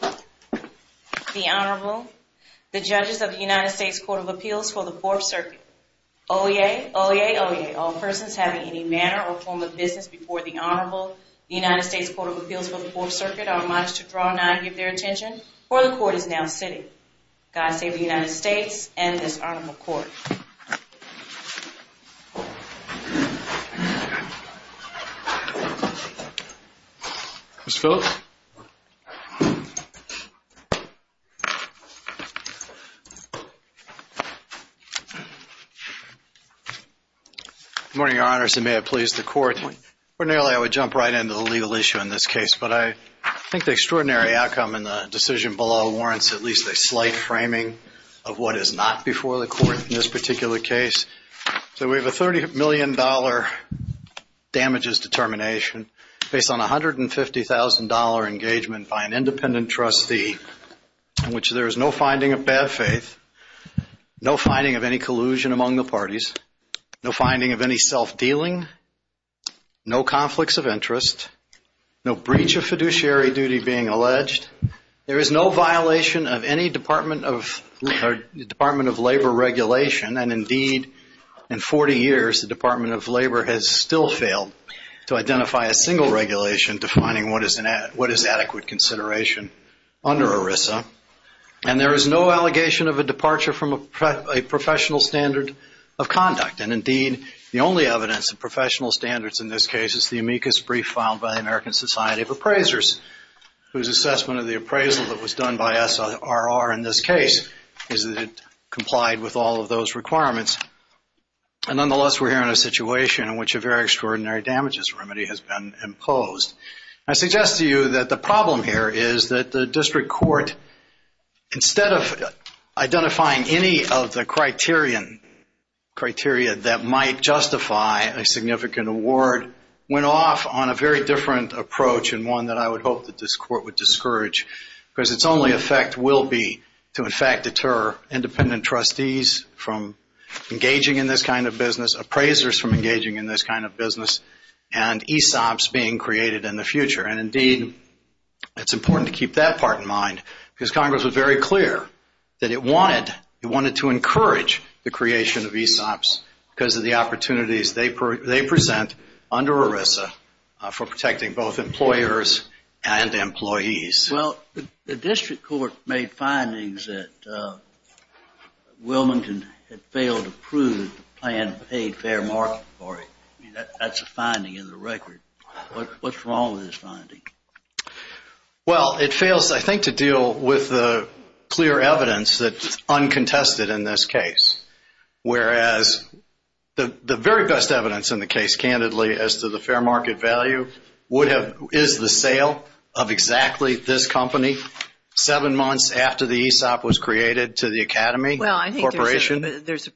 The Honorable, the judges of the United States Court of Appeals for the Fourth Circuit. Oyez, oyez, oyez, all persons having any manner or form of business before the Honorable, the United States Court of Appeals for the Fourth Circuit are admonished to draw not and give their attention, for the Court is now sitting. God save the United States and this Honorable Court. Ms. Phillips? Good morning, Your Honors, and may it please the Court. Ordinarily, I would jump right into the legal issue in this case, but I think the extraordinary outcome in the decision below warrants at least a slight framing of what is not before the Court in this particular case. So we have a $30 million damages determination based on a $150,000 engagement by an independent trustee in which there is no finding of bad faith, no finding of any collusion among the parties, no finding of any self-dealing, no conflicts of interest, no breach of fiduciary duty being alleged. There is no violation of any Department of Labor regulation, and indeed in 40 years the Department of Labor has still failed to identify a single regulation defining what is adequate consideration under ERISA. And there is no allegation of a departure from a professional standard of conduct, and indeed the only evidence of professional standards in this case is the amicus brief which was filed by the American Society of Appraisers, whose assessment of the appraisal that was done by SRR in this case is that it complied with all of those requirements. Nonetheless, we're here in a situation in which a very extraordinary damages remedy has been imposed. I suggest to you that the problem here is that the district court, instead of identifying any of the criteria that might justify a significant award, went off on a very different approach and one that I would hope that this court would discourage because its only effect will be to in fact deter independent trustees from engaging in this kind of business, appraisers from engaging in this kind of business, and ESOPs being created in the future. And indeed it's important to keep that part in mind because Congress was very clear that it wanted to encourage the creation of ESOPs because of the opportunities they present under ERISA for protecting both employers and employees. Well, the district court made findings that Wilmington had failed to prove the plan paid fair market for it. That's a finding in the record. What's wrong with this finding? Well, it fails, I think, to deal with the clear evidence that's uncontested in this case. Whereas the very best evidence in the case, candidly, as to the fair market value, is the sale of exactly this company seven months after the ESOP was created to the Academy Corporation. Well, I think there's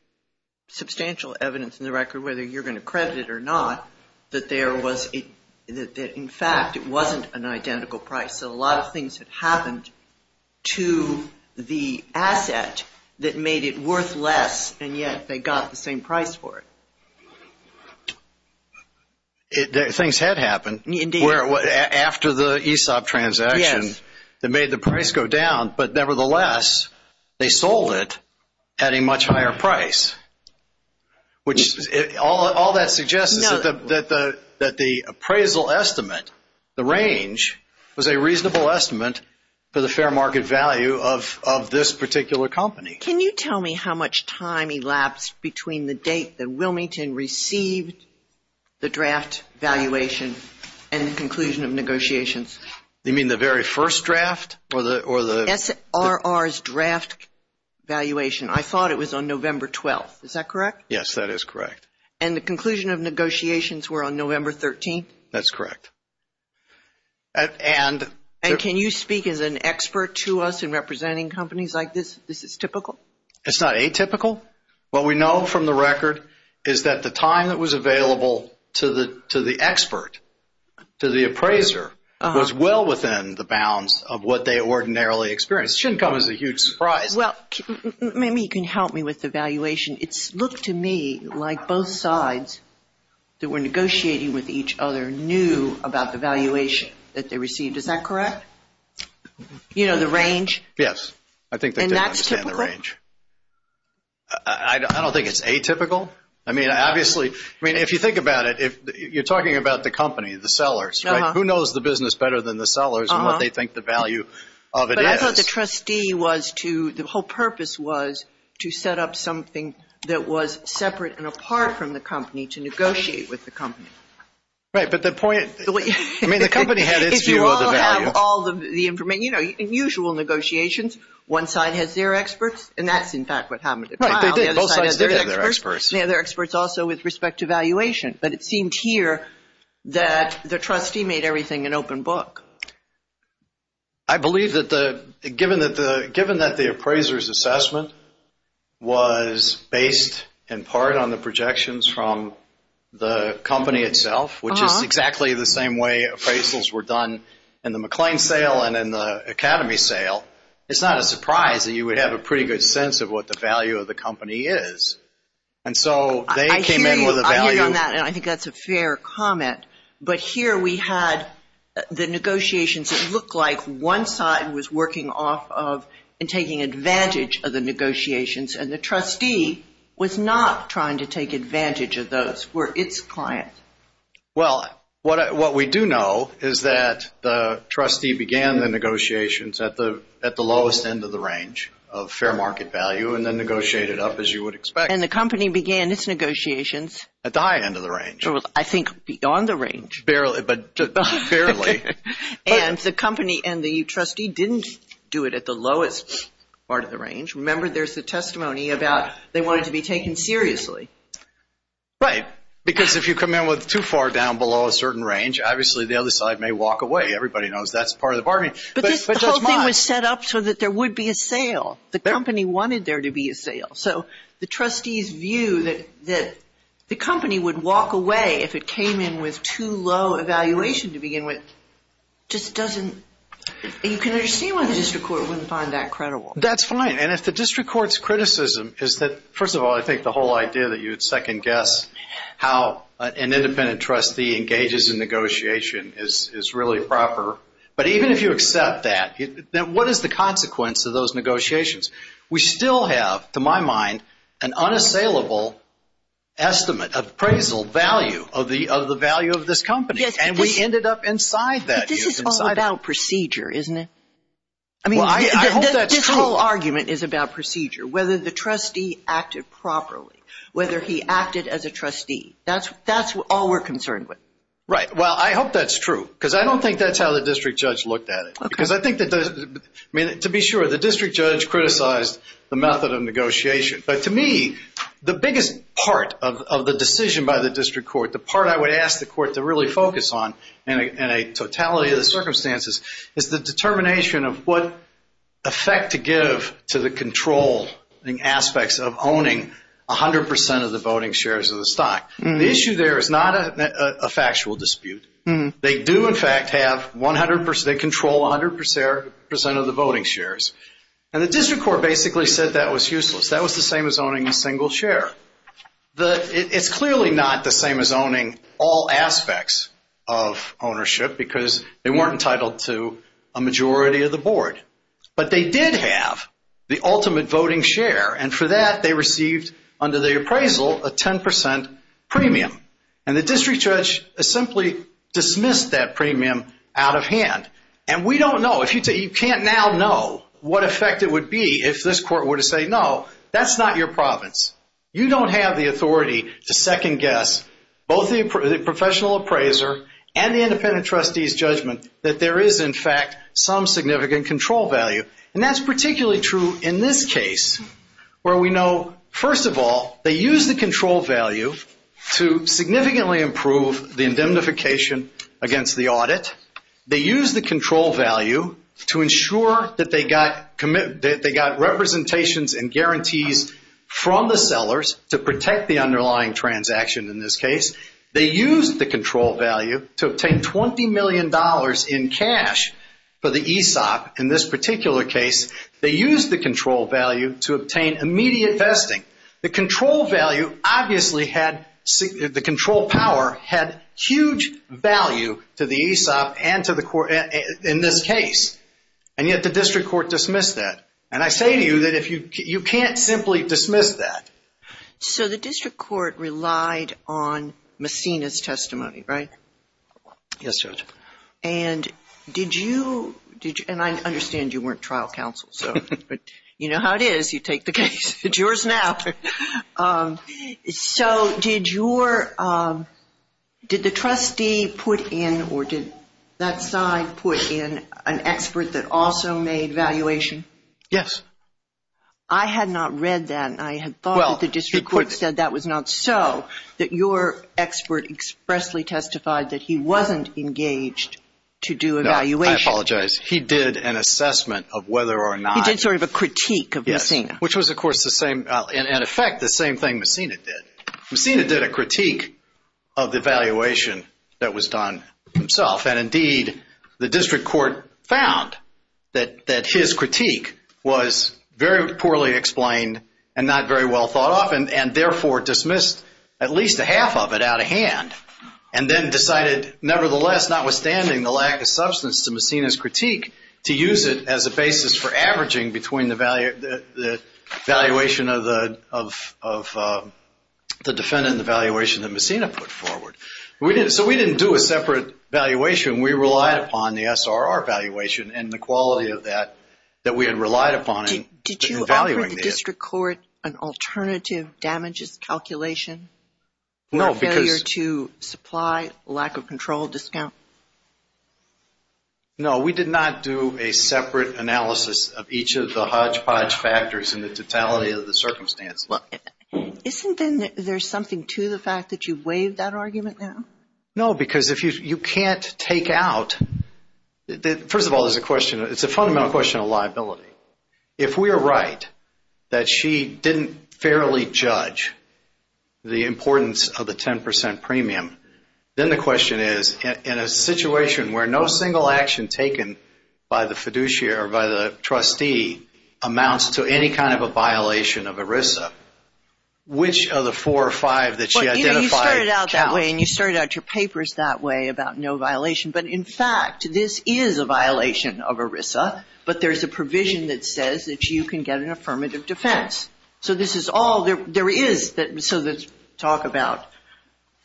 substantial evidence in the record, whether you're going to credit it or not, that in fact it wasn't an identical price. So a lot of things had happened to the asset that made it worth less, and yet they got the same price for it. Things had happened after the ESOP transaction that made the price go down, but nevertheless they sold it at a much higher price. Which all that suggests is that the appraisal estimate, the range, was a reasonable estimate for the fair market value of this particular company. Can you tell me how much time elapsed between the date that Wilmington received the draft valuation and the conclusion of negotiations? You mean the very first draft? SRR's draft valuation. I thought it was on November 12th. Is that correct? Yes, that is correct. And the conclusion of negotiations were on November 13th? That's correct. And can you speak as an expert to us in representing companies like this? Is this typical? It's not atypical. What we know from the record is that the time that was available to the expert, to the appraiser, was well within the bounds of what they ordinarily experience. It shouldn't come as a huge surprise. Well, maybe you can help me with the valuation. It looked to me like both sides that were negotiating with each other knew about the valuation that they received. Is that correct? You know the range? Yes. And that's typical? I don't think it's atypical. I mean, obviously, if you think about it, you're talking about the company, the sellers, right? They know the business better than the sellers and what they think the value of it is. But I thought the trustee was to the whole purpose was to set up something that was separate and apart from the company to negotiate with the company. Right, but the point, I mean, the company had its view of the value. If you all have all the information, you know, in usual negotiations, one side has their experts, and that's, in fact, what happened at trial. Right, they did. Both sides did have their experts. They had their experts also with respect to valuation. But it seemed here that the trustee made everything an open book. I believe that given that the appraiser's assessment was based in part on the projections from the company itself, which is exactly the same way appraisals were done in the McLean sale and in the Academy sale, it's not a surprise that you would have a pretty good sense of what the value of the company is. And so they came in with a value. I hear you on that, and I think that's a fair comment. But here we had the negotiations that looked like one side was working off of and taking advantage of the negotiations, and the trustee was not trying to take advantage of those, were its client. Well, what we do know is that the trustee began the negotiations at the lowest end of the range of fair market value and then negotiated up as you would expect. And the company began its negotiations? At the high end of the range. I think beyond the range. Barely, but fairly. And the company and the trustee didn't do it at the lowest part of the range. Remember, there's the testimony about they wanted to be taken seriously. Right, because if you come in with too far down below a certain range, obviously the other side may walk away. Everybody knows that's part of the bargaining. But the whole thing was set up so that there would be a sale. The company wanted there to be a sale. So the trustee's view that the company would walk away if it came in with too low evaluation to begin with, just doesn't, you can understand why the district court wouldn't find that credible. That's fine. And if the district court's criticism is that, first of all, I think the whole idea that you would second guess how an independent trustee engages in negotiation is really proper. But even if you accept that, what is the consequence of those negotiations? We still have, to my mind, an unassailable estimate, appraisal, value of the value of this company. And we ended up inside that. But this is all about procedure, isn't it? I mean, this whole argument is about procedure, whether the trustee acted properly, whether he acted as a trustee. That's all we're concerned with. Right. Well, I hope that's true because I don't think that's how the district judge looked at it. Okay. Because I think that, I mean, to be sure, the district judge criticized the method of negotiation. But to me, the biggest part of the decision by the district court, the part I would ask the court to really focus on in a totality of the circumstances, is the determination of what effect to give to the controlling aspects of owning 100 percent of the voting shares of the stock. The issue there is not a factual dispute. They do, in fact, have 100 percent, they control 100 percent of the voting shares. And the district court basically said that was useless. That was the same as owning a single share. It's clearly not the same as owning all aspects of ownership because they weren't entitled to a majority of the board. But they did have the ultimate voting share. And for that, they received, under the appraisal, a 10 percent premium. And the district judge simply dismissed that premium out of hand. And we don't know. You can't now know what effect it would be if this court were to say, no, that's not your province. You don't have the authority to second-guess both the professional appraiser and the independent trustee's judgment that there is, in fact, some significant control value. And that's particularly true in this case where we know, first of all, they used the control value to significantly improve the indemnification against the audit. They used the control value to ensure that they got representations and guarantees from the sellers to protect the underlying transaction in this case. They used the control value to obtain $20 million in cash for the ESOP. In this particular case, they used the control value to obtain immediate vesting. The control value obviously had the control power had huge value to the ESOP and to the court in this case. And yet the district court dismissed that. And I say to you that you can't simply dismiss that. So the district court relied on Messina's testimony, right? Yes, Judge. And did you – and I understand you weren't trial counsel, but you know how it is. You take the case. It's yours now. So did your – did the trustee put in or did that side put in an expert that also made valuation? Yes. I had not read that, and I had thought that the district court said that was not so, that your expert expressly testified that he wasn't engaged to do evaluation. No, I apologize. He did an assessment of whether or not – He did sort of a critique of Messina. Yes, which was, of course, the same – in effect, the same thing Messina did. Messina did a critique of the valuation that was done himself. And, indeed, the district court found that his critique was very poorly explained and not very well thought of and, therefore, dismissed at least a half of it out of hand and then decided, nevertheless, notwithstanding the lack of substance to Messina's critique, to use it as a basis for averaging between the valuation of the defendant and the valuation that Messina put forward. We didn't – so we didn't do a separate valuation. We relied upon the SRR valuation and the quality of that that we had relied upon. Did you offer the district court an alternative damages calculation? No, because – Or a failure to supply, lack of control, discount? No, we did not do a separate analysis of each of the hodgepodge factors and the totality of the circumstance. Isn't there something to the fact that you've waived that argument now? No, because if you can't take out – first of all, there's a question – it's a fundamental question of liability. If we are right that she didn't fairly judge the importance of the 10 percent premium, then the question is, in a situation where no single action taken by the fiduciary or by the trustee amounts to any kind of a violation of ERISA, which of the four or five that she identified counts? Well, you know, you started out that way, and you started out your papers that way about no violation. But, in fact, this is a violation of ERISA, but there's a provision that says that you can get an affirmative defense. So this is all – there is – so let's talk about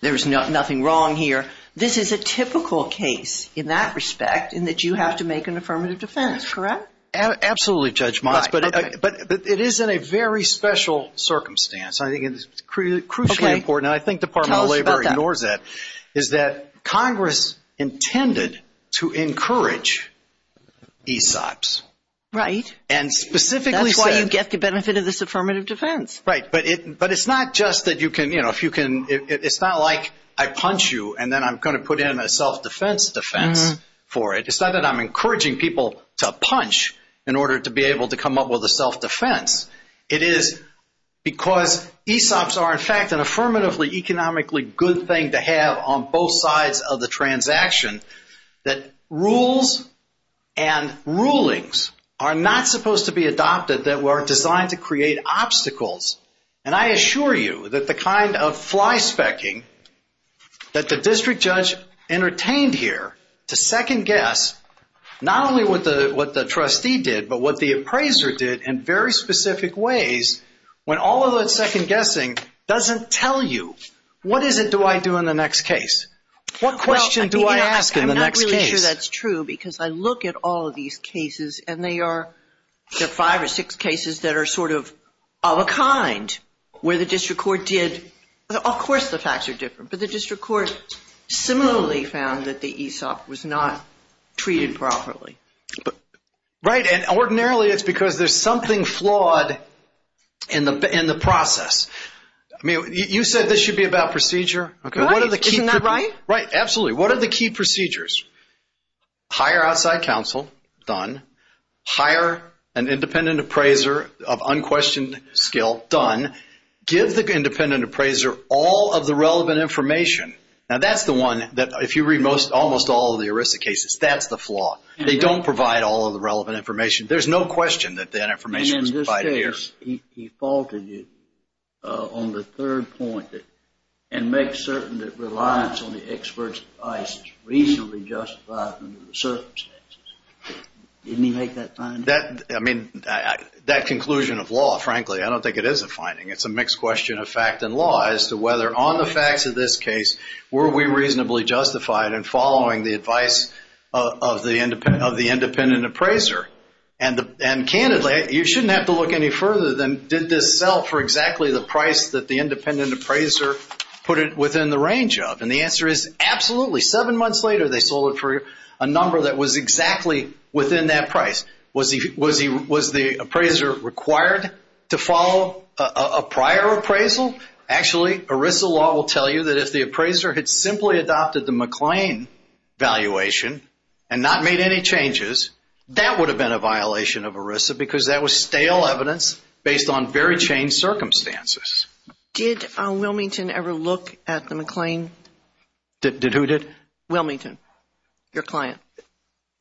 there's nothing wrong here. This is a typical case in that respect in that you have to make an affirmative defense, correct? Absolutely, Judge Motz, but it is in a very special circumstance. I think it's crucially important, and I think the Department of Labor ignores that, is that Congress intended to encourage ESOPs. Right. And specifically said – That's why you get the benefit of this affirmative defense. Right. But it's not just that you can – you know, if you can – it's not like I punch you, and then I'm going to put in a self-defense defense for it. It's not that I'm encouraging people to punch in order to be able to come up with a self-defense. It is because ESOPs are, in fact, an affirmatively economically good thing to have on both sides of the transaction that rules and rulings are not supposed to be adopted that are designed to create obstacles. And I assure you that the kind of flyspecking that the district judge entertained here to second-guess not only what the trustee did, but what the appraiser did in very specific ways, when all of that second-guessing doesn't tell you, what is it do I do in the next case? What question do I ask in the next case? Well, I'm not really sure that's true because I look at all of these cases, and they are – there are five or six cases that are sort of of a kind where the district court did – of course the facts are different, but the district court similarly found that the ESOP was not treated properly. Right. And ordinarily it's because there's something flawed in the process. I mean, you said this should be about procedure. Right. Isn't that right? Right. Absolutely. What are the key procedures? Hire outside counsel. Done. Hire an independent appraiser of unquestioned skill. Done. Give the independent appraiser all of the relevant information. Now, that's the one that if you read almost all of the ERISA cases, that's the flaw. They don't provide all of the relevant information. There's no question that that information is provided. He faulted you on the third point and make certain that reliance on the expert's advice is reasonably justified under the circumstances. Didn't he make that finding? I mean, that conclusion of law, frankly, I don't think it is a finding. It's a mixed question of fact and law as to whether on the facts of this case were we reasonably justified in following the advice of the independent appraiser. And, candidly, you shouldn't have to look any further than did this sell for exactly the price that the independent appraiser put it within the range of. And the answer is absolutely. Seven months later, they sold it for a number that was exactly within that price. Was the appraiser required to follow a prior appraisal? Actually, ERISA law will tell you that if the appraiser had simply adopted the McLean valuation and not made any changes, that would have been a violation of ERISA because that was stale evidence based on very changed circumstances. Did Wilmington ever look at the McLean? Who did? Wilmington, your client.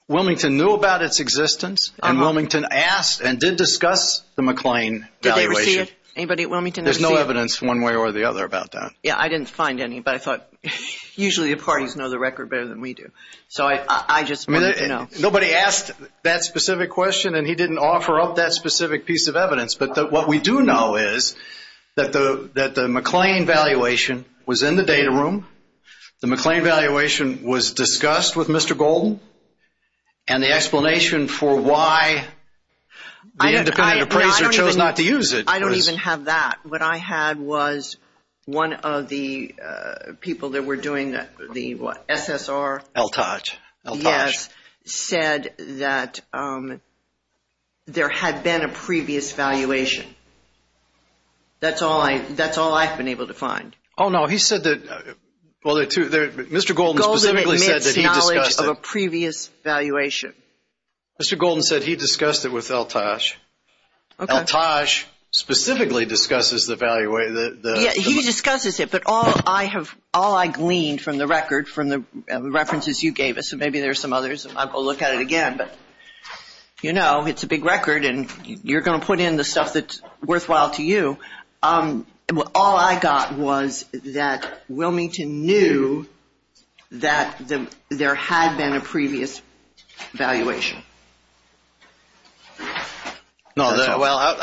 Wilmington knew about its existence and Wilmington asked and did discuss the McLean valuation. Did they ever see it? Anybody at Wilmington ever see it? There's no evidence one way or the other about that. Yeah, I didn't find any, but I thought usually the parties know the record better than we do. So I just wanted to know. Nobody asked that specific question and he didn't offer up that specific piece of evidence. But what we do know is that the McLean valuation was in the data room. The McLean valuation was discussed with Mr. Golden. And the explanation for why the independent appraiser chose not to use it. I don't even have that. What I had was one of the people that were doing the SSR. El Taj. El Taj. Yes, said that there had been a previous valuation. That's all I've been able to find. Oh, no, he said that, well, Mr. Golden specifically said that he discussed it. Golden admits knowledge of a previous valuation. Mr. Golden said he discussed it with El Taj. El Taj specifically discusses the valuation. Yeah, he discusses it, but all I gleaned from the record, from the references you gave us, and maybe there are some others and I'll go look at it again, but, you know, it's a big record and you're going to put in the stuff that's worthwhile to you. All I got was that Wilmington knew that there had been a previous valuation. No, well,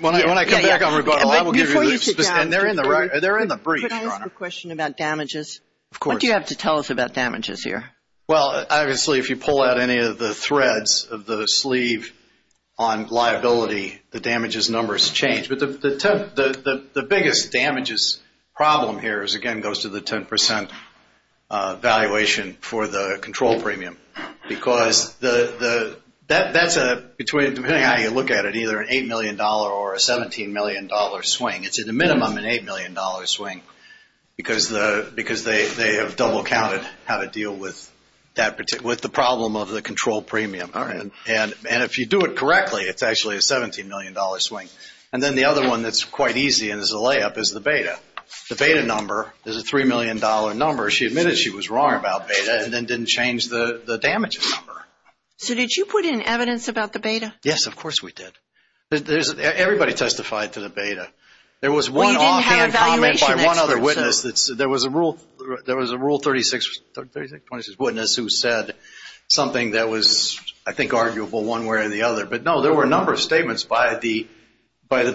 when I come back on rebuttal, I will give you the specifics. And they're in the brief, Your Honor. Can I ask a question about damages? Of course. What do you have to tell us about damages here? Well, obviously, if you pull out any of the threads of the sleeve on liability, the damages numbers change. But the biggest damages problem here is, again, goes to the 10% valuation for the control premium. Because that's a, depending on how you look at it, either an $8 million or a $17 million swing. It's at a minimum an $8 million swing because they have double counted how to deal with the problem of the control premium. All right. And if you do it correctly, it's actually a $17 million swing. And then the other one that's quite easy and is a layup is the beta. The beta number is a $3 million number. She admitted she was wrong about beta and then didn't change the damages number. So did you put in evidence about the beta? Yes, of course we did. Everybody testified to the beta. There was one offhand comment by one other witness. There was a Rule 36 witness who said something that was, I think, arguable one way or the other. But, no, there were a number of statements by the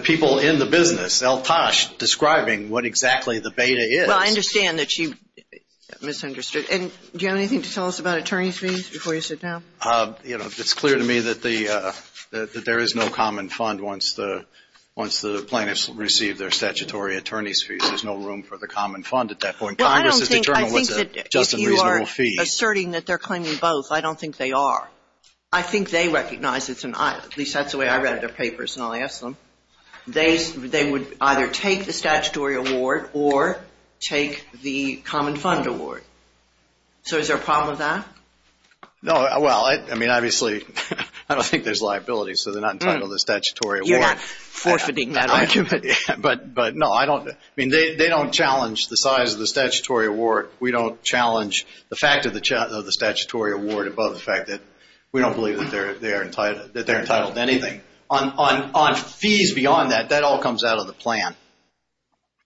people in the business, El-Tash, describing what exactly the beta is. Well, I understand that she misunderstood. And do you have anything to tell us about attorney's fees before you sit down? You know, it's clear to me that there is no common fund once the plaintiffs receive their statutory attorney's fees. There's no room for the common fund at that point. Congress has determined what's a just and reasonable fee. I think that if you are asserting that they're claiming both, I don't think they are. I think they recognize, at least that's the way I read their papers when I asked them, they would either take the statutory award or take the common fund award. So is there a problem with that? No. Well, I mean, obviously, I don't think there's liability, so they're not entitled to the statutory award. You're not forfeiting that argument. But, no, I don't. I mean, they don't challenge the size of the statutory award. We don't challenge the fact of the statutory award above the fact that we don't believe that they're entitled to anything. On fees beyond that, that all comes out of the plan.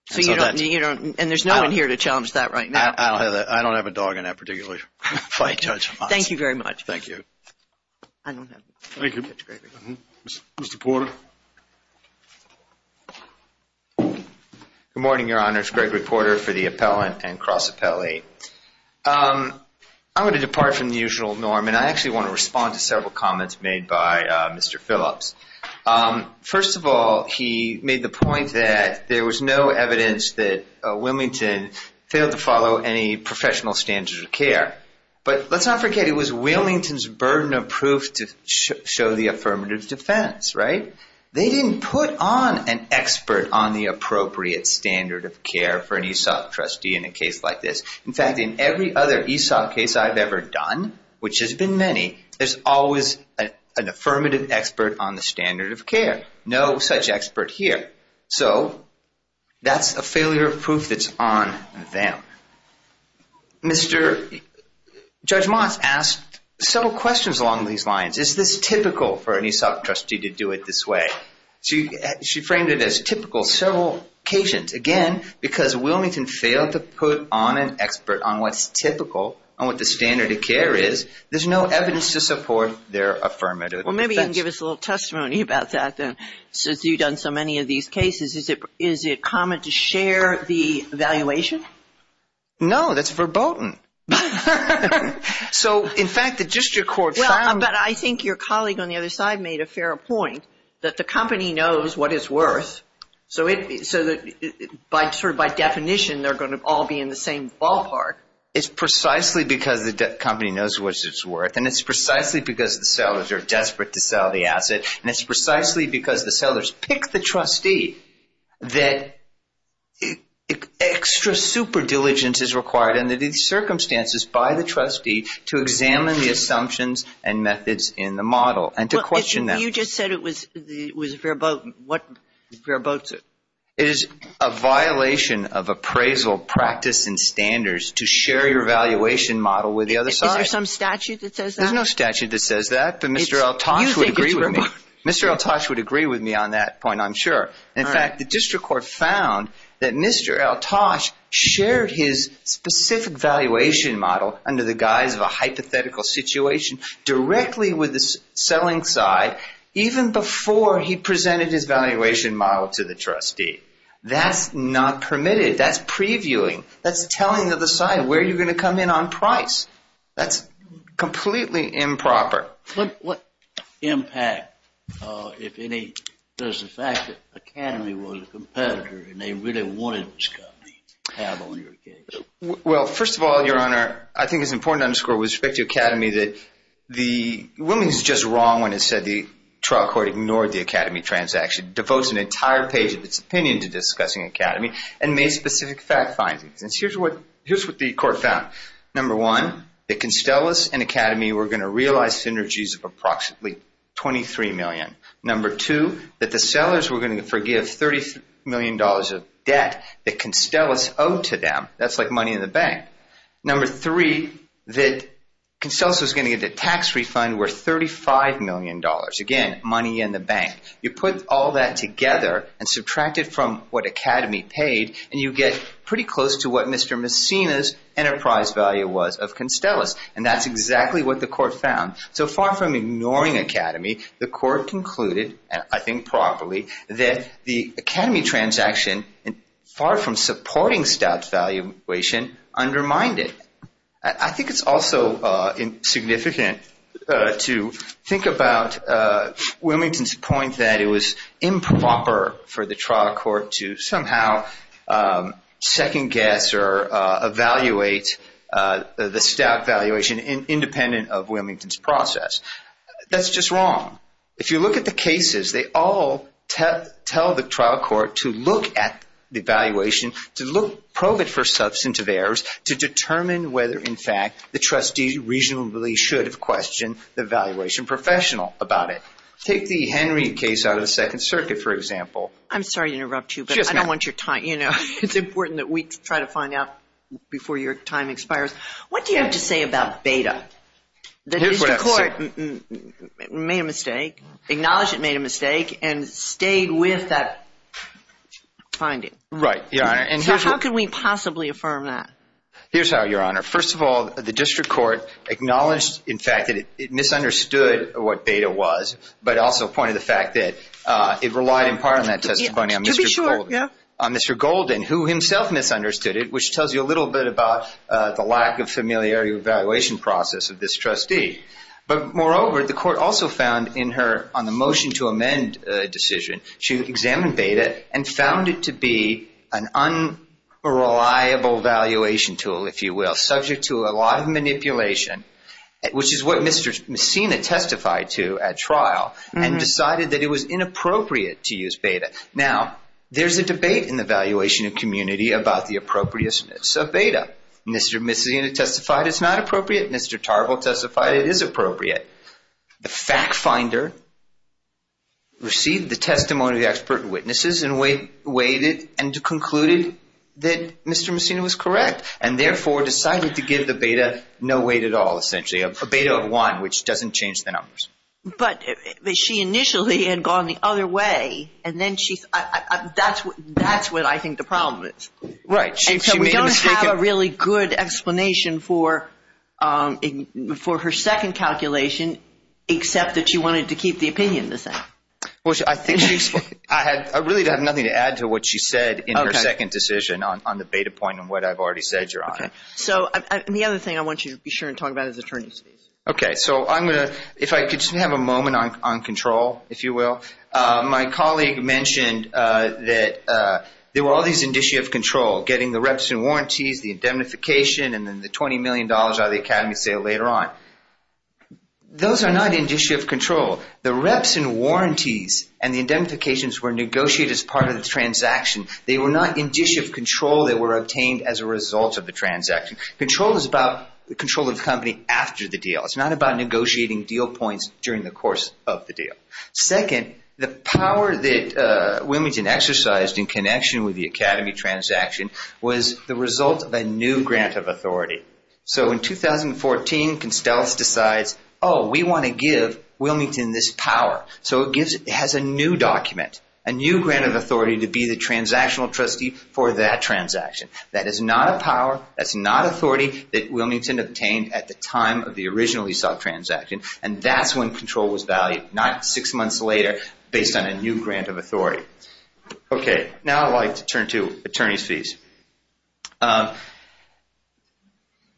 So you don't, and there's no one here to challenge that right now. I don't have a dog in that particular fight, Judge Watts. Thank you very much. Thank you. Thank you. Mr. Porter. Good morning, Your Honors. Greg Reporter for the Appellant and Cross Appellee. I'm going to depart from the usual norm, and I actually want to respond to several comments made by Mr. Phillips. First of all, he made the point that there was no evidence that Wilmington failed to follow any professional standards of care. But let's not forget it was Wilmington's burden of proof to show the affirmative defense, right? They didn't put on an expert on the appropriate standard of care for an ESOP trustee in a case like this. In fact, in every other ESOP case I've ever done, which has been many, there's always an affirmative expert on the standard of care. No such expert here. So that's a failure of proof that's on them. Mr. Judge Watts asked several questions along these lines. Is this typical for an ESOP trustee to do it this way? She framed it as typical several occasions. Again, because Wilmington failed to put on an expert on what's typical and what the standard of care is, there's no evidence to support their affirmative defense. Well, maybe you can give us a little testimony about that, then, since you've done so many of these cases. Is it common to share the valuation? No, that's verboten. So, in fact, the district court found — Well, but I think your colleague on the other side made a fair point, that the company knows what it's worth. So by definition, they're going to all be in the same ballpark. It's precisely because the company knows what it's worth, and it's precisely because the sellers are desperate to sell the asset, and it's precisely because the sellers pick the trustee, that extra superdiligence is required, and that it's circumstances by the trustee to examine the assumptions and methods in the model and to question them. You just said it was verboten. What verbotes it? It is a violation of appraisal practice and standards to share your valuation model with the other side. Is there some statute that says that? There's no statute that says that, but Mr. El-Tosh would agree with me. Mr. El-Tosh would agree with me on that point, I'm sure. In fact, the district court found that Mr. El-Tosh shared his specific valuation model, under the guise of a hypothetical situation, directly with the selling side, even before he presented his valuation model to the trustee. That's not permitted. That's previewing. That's telling the other side where you're going to come in on price. That's completely improper. What impact, if any, does the fact that Academy was a competitor, and they really wanted this company, have on your case? Well, first of all, Your Honor, I think it's important to underscore with respect to Academy that the woman is just wrong when it said the trial court ignored the Academy transaction, devotes an entire page of its opinion to discussing Academy, and made specific fact findings. And here's what the court found. Number one, that Constellas and Academy were going to realize synergies of approximately $23 million. Number two, that the sellers were going to forgive $30 million of debt that Constellas owed to them. That's like money in the bank. Number three, that Constellas was going to get a tax refund worth $35 million. Again, money in the bank. You put all that together and subtract it from what Academy paid, and you get pretty close to what Mr. Messina's enterprise value was of Constellas. And that's exactly what the court found. So far from ignoring Academy, the court concluded, I think properly, that the Academy transaction, far from supporting stout valuation, undermined it. I think it's also significant to think about Wilmington's point that it was improper for the trial court to somehow second-guess or evaluate the stout valuation independent of Wilmington's process. That's just wrong. If you look at the cases, they all tell the trial court to look at the valuation, to probe it for substantive errors, to determine whether, in fact, the trustee reasonably should have questioned the valuation professional about it. Take the Henry case out of the Second Circuit, for example. I'm sorry to interrupt you, but I don't want your time. You know, it's important that we try to find out before your time expires. What do you have to say about beta? The district court made a mistake, acknowledged it made a mistake, and stayed with that finding. Right, Your Honor. So how could we possibly affirm that? Here's how, Your Honor. First of all, the district court acknowledged, in fact, that it misunderstood what beta was, but also pointed to the fact that it relied in part on that testimony on Mr. Golden, who himself misunderstood it, which tells you a little bit about the lack of familiar evaluation process of this trustee. But moreover, the court also found in her on the motion to amend decision, she examined beta and found it to be an unreliable valuation tool, if you will, subject to a lot of manipulation, which is what Mr. Messina testified to at trial, and decided that it was inappropriate to use beta. Now, there's a debate in the valuation community about the appropriateness of beta. Mr. Messina testified it's not appropriate. Mr. Tarble testified it is appropriate. The fact finder received the testimony of the expert witnesses and concluded that Mr. Messina was correct, and therefore decided to give the beta no weight at all, essentially, a beta of one, which doesn't change the numbers. But she initially had gone the other way, and then she – that's what I think the problem is. Right. And so we don't have a really good explanation for her second calculation, except that she wanted to keep the opinion the same. Well, I think she – I really have nothing to add to what she said in her second decision on the beta point and what I've already said, Your Honor. So the other thing I want you to be sure and talk about is attorney's fees. Okay. So I'm going to – if I could just have a moment on control, if you will. So my colleague mentioned that there were all these indicia of control, getting the reps and warranties, the indemnification, and then the $20 million out of the academy sale later on. Those are not indicia of control. The reps and warranties and the indemnifications were negotiated as part of the transaction. They were not indicia of control. They were obtained as a result of the transaction. Control is about the control of the company after the deal. It's not about negotiating deal points during the course of the deal. Second, the power that Wilmington exercised in connection with the academy transaction was the result of a new grant of authority. So in 2014, Constellas decides, oh, we want to give Wilmington this power. So it gives – it has a new document, a new grant of authority to be the transactional trustee for that transaction. That is not a power. That's not authority that Wilmington obtained at the time of the original ESOP transaction, and that's when control was valued, not six months later based on a new grant of authority. Okay, now I'd like to turn to attorney's fees.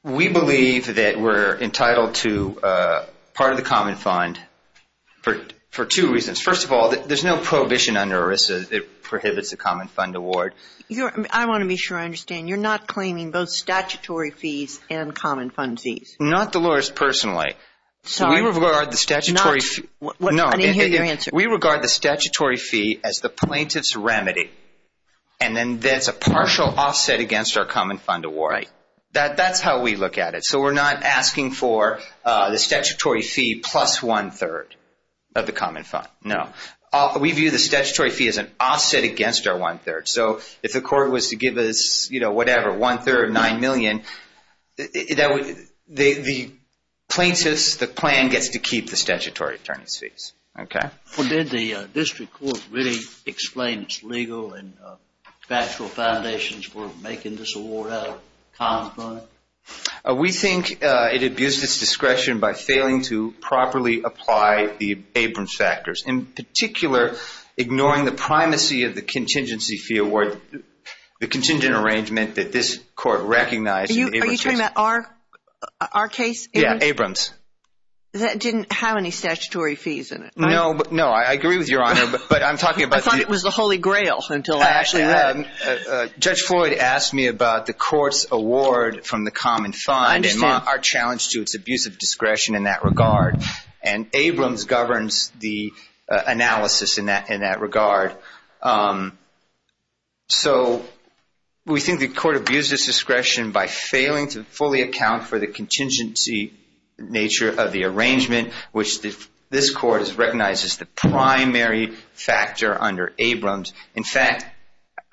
We believe that we're entitled to part of the common fund for two reasons. First of all, there's no prohibition under ERISA that prohibits the common fund award. I want to be sure I understand. You're not claiming both statutory fees and common fund fees? Not Dolores personally. We regard the statutory fee as the plaintiff's remedy, and then that's a partial offset against our common fund award. That's how we look at it. So we're not asking for the statutory fee plus one-third of the common fund. No. We view the statutory fee as an offset against our one-third. So if the court was to give us, you know, whatever, one-third of $9 million, the plaintiff's plan gets to keep the statutory attorney's fees. Did the district court really explain its legal and factual foundations for making this award out of common fund? We think it abused its discretion by failing to properly apply the Abrams factors, in particular ignoring the primacy of the contingency fee award, the contingent arrangement that this court recognized. Are you talking about our case? Yeah, Abrams. That didn't have any statutory fees in it. No. No, I agree with Your Honor, but I'm talking about the – I thought it was the Holy Grail until I actually read it. Judge Floyd asked me about the court's award from the common fund. I understand. And our challenge to its abuse of discretion in that regard. And Abrams governs the analysis in that regard. So we think the court abused its discretion by failing to fully account for the contingency nature of the arrangement, which this court has recognized as the primary factor under Abrams. In fact,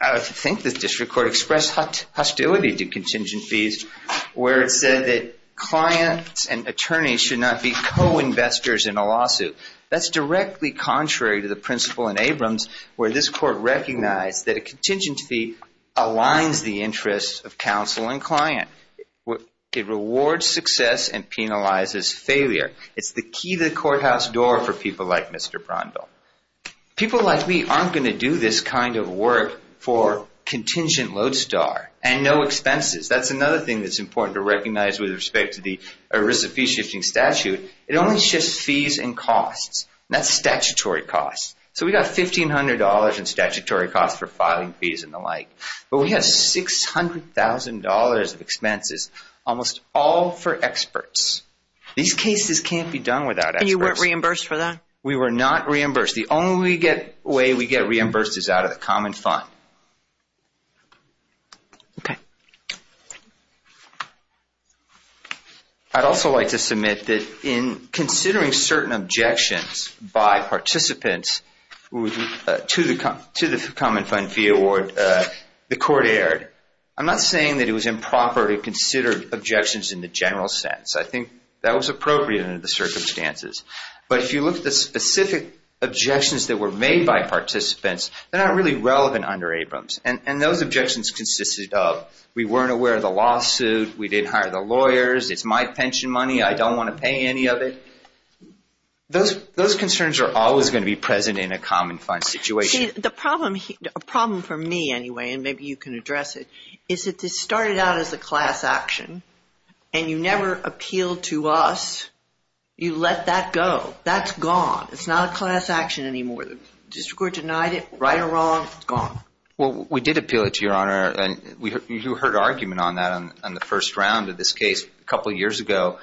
I think the district court expressed hostility to contingent fees, where it said that clients and attorneys should not be co-investors in a lawsuit. That's directly contrary to the principle in Abrams, where this court recognized that a contingent fee aligns the interests of counsel and client. It rewards success and penalizes failure. It's the key to the courthouse door for people like Mr. Brondel. People like me aren't going to do this kind of work for contingent lodestar and no expenses. That's another thing that's important to recognize with respect to the risk of fee shifting statute. It only shifts fees and costs. That's statutory costs. So we got $1,500 in statutory costs for filing fees and the like. But we had $600,000 of expenses, almost all for experts. These cases can't be done without experts. And you weren't reimbursed for that? We were not reimbursed. The only way we get reimbursed is out of the common fund. Okay. I'd also like to submit that in considering certain objections by participants to the common fund fee award, the court erred. I'm not saying that it was improper to consider objections in the general sense. I think that was appropriate under the circumstances. But if you look at the specific objections that were made by participants, they're not really relevant under Abrams. And those objections consisted of we weren't aware of the lawsuit, we didn't hire the lawyers, it's my pension money, I don't want to pay any of it. Those concerns are always going to be present in a common fund situation. A problem for me, anyway, and maybe you can address it, is that this started out as a class action, and you never appealed to us. You let that go. That's gone. It's not a class action anymore. The district court denied it, right or wrong, it's gone. Well, we did appeal it to Your Honor, and you heard argument on that on the first round of this case a couple years ago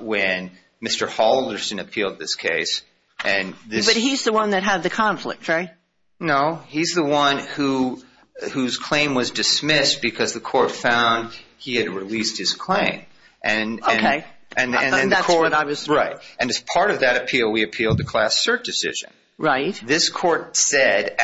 when Mr. Halderson appealed this case. But he's the one that had the conflict, right? No, he's the one whose claim was dismissed because the court found he had released his claim. Okay, and that's what I was through. Right. And as part of that appeal, we appealed the class cert decision. Right. This court said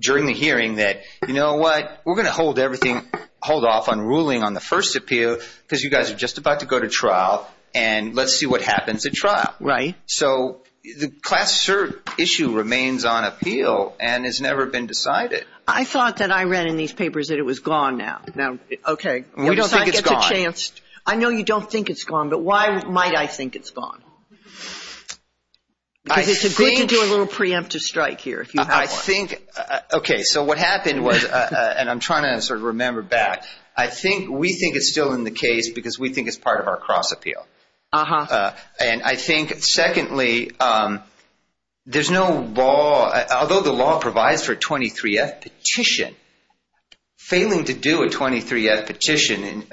during the hearing that, you know what, we're going to hold off on ruling on the first appeal because you guys are just about to go to trial, and let's see what happens at trial. Right. So the class cert issue remains on appeal and has never been decided. I thought that I read in these papers that it was gone now. Now, okay. We don't think it's gone. I know you don't think it's gone, but why might I think it's gone? Because it's a good to do a little preemptive strike here if you have one. Okay, so what happened was, and I'm trying to sort of remember back, I think we think it's still in the case because we think it's part of our cross appeal. Uh-huh. And I think, secondly, there's no law, although the law provides for a 23-F petition, failing to do a 23-F petition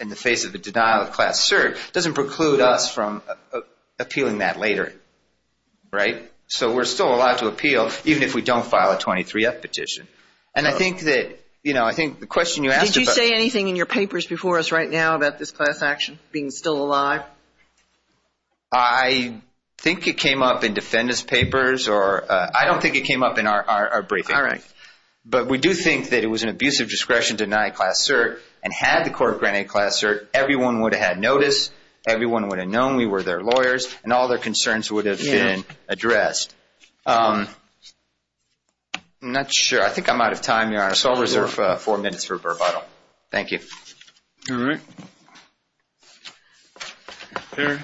in the face of a denial of class cert doesn't preclude us from appealing that later. Right? So we're still allowed to appeal even if we don't file a 23-F petition. And I think that, you know, I think the question you asked about before us right now about this class action being still alive? I think it came up in defendant's papers. I don't think it came up in our briefing. All right. But we do think that it was an abusive discretion to deny a class cert and had the court granted a class cert, everyone would have had notice. Everyone would have known we were their lawyers, and all their concerns would have been addressed. I'm not sure. I think I'm out of time, Your Honor, so I'll reserve four minutes for rebuttal. Thank you. All right. Perry.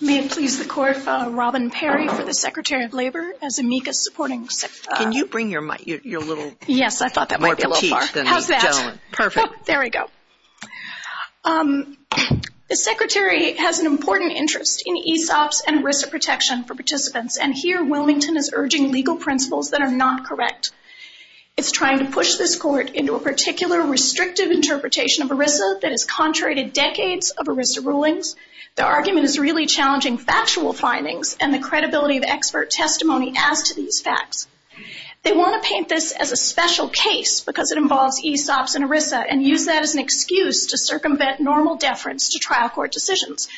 May it please the court, Robin Perry for the Secretary of Labor as amicus supporting. Can you bring your little more petite than me? Yes, I thought that might be a little far. How's that? Perfect. There we go. The Secretary has an important interest in ESOPs and ERISA protection for participants, and here Wilmington is urging legal principles that are not correct. It's trying to push this court into a particular restrictive interpretation of ERISA that has contradicted decades of ERISA rulings. The argument is really challenging factual findings and the credibility of expert testimony as to these facts. They want to paint this as a special case because it involves ESOPs and ERISA and use that as an excuse to circumvent normal deference to trial court decisions.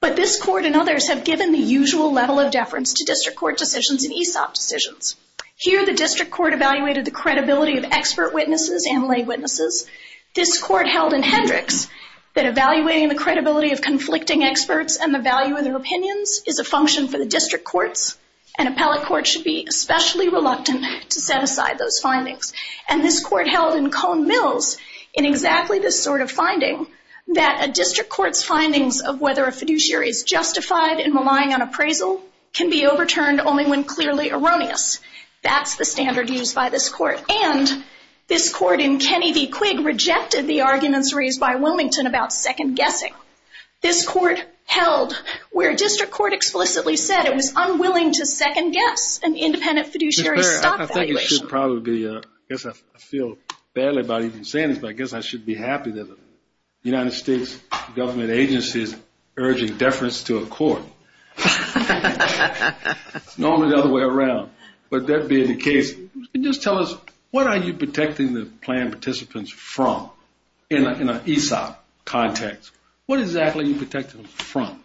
But this court and others have given the usual level of deference to district court decisions and ESOP decisions. Here the district court evaluated the credibility of expert witnesses and lay witnesses. This court held in Hendricks that evaluating the credibility of conflicting experts and the value of their opinions is a function for the district courts, and appellate courts should be especially reluctant to set aside those findings. And this court held in Cone Mills, in exactly this sort of finding, that a district court's findings of whether a fiduciary is justified in relying on appraisal can be overturned only when clearly erroneous. That's the standard used by this court. And this court in Kenny v. Quigg rejected the arguments raised by Wilmington about second guessing. This court held where district court explicitly said it was unwilling to second guess an independent fiduciary's stock valuation. I think it should probably be, I guess I feel badly about even saying this, but I guess I should be happy that the United States government agency is urging deference to a court. It's normally the other way around. But that being the case, just tell us, what are you protecting the plan participants from in an ESOP context? What exactly are you protecting them from?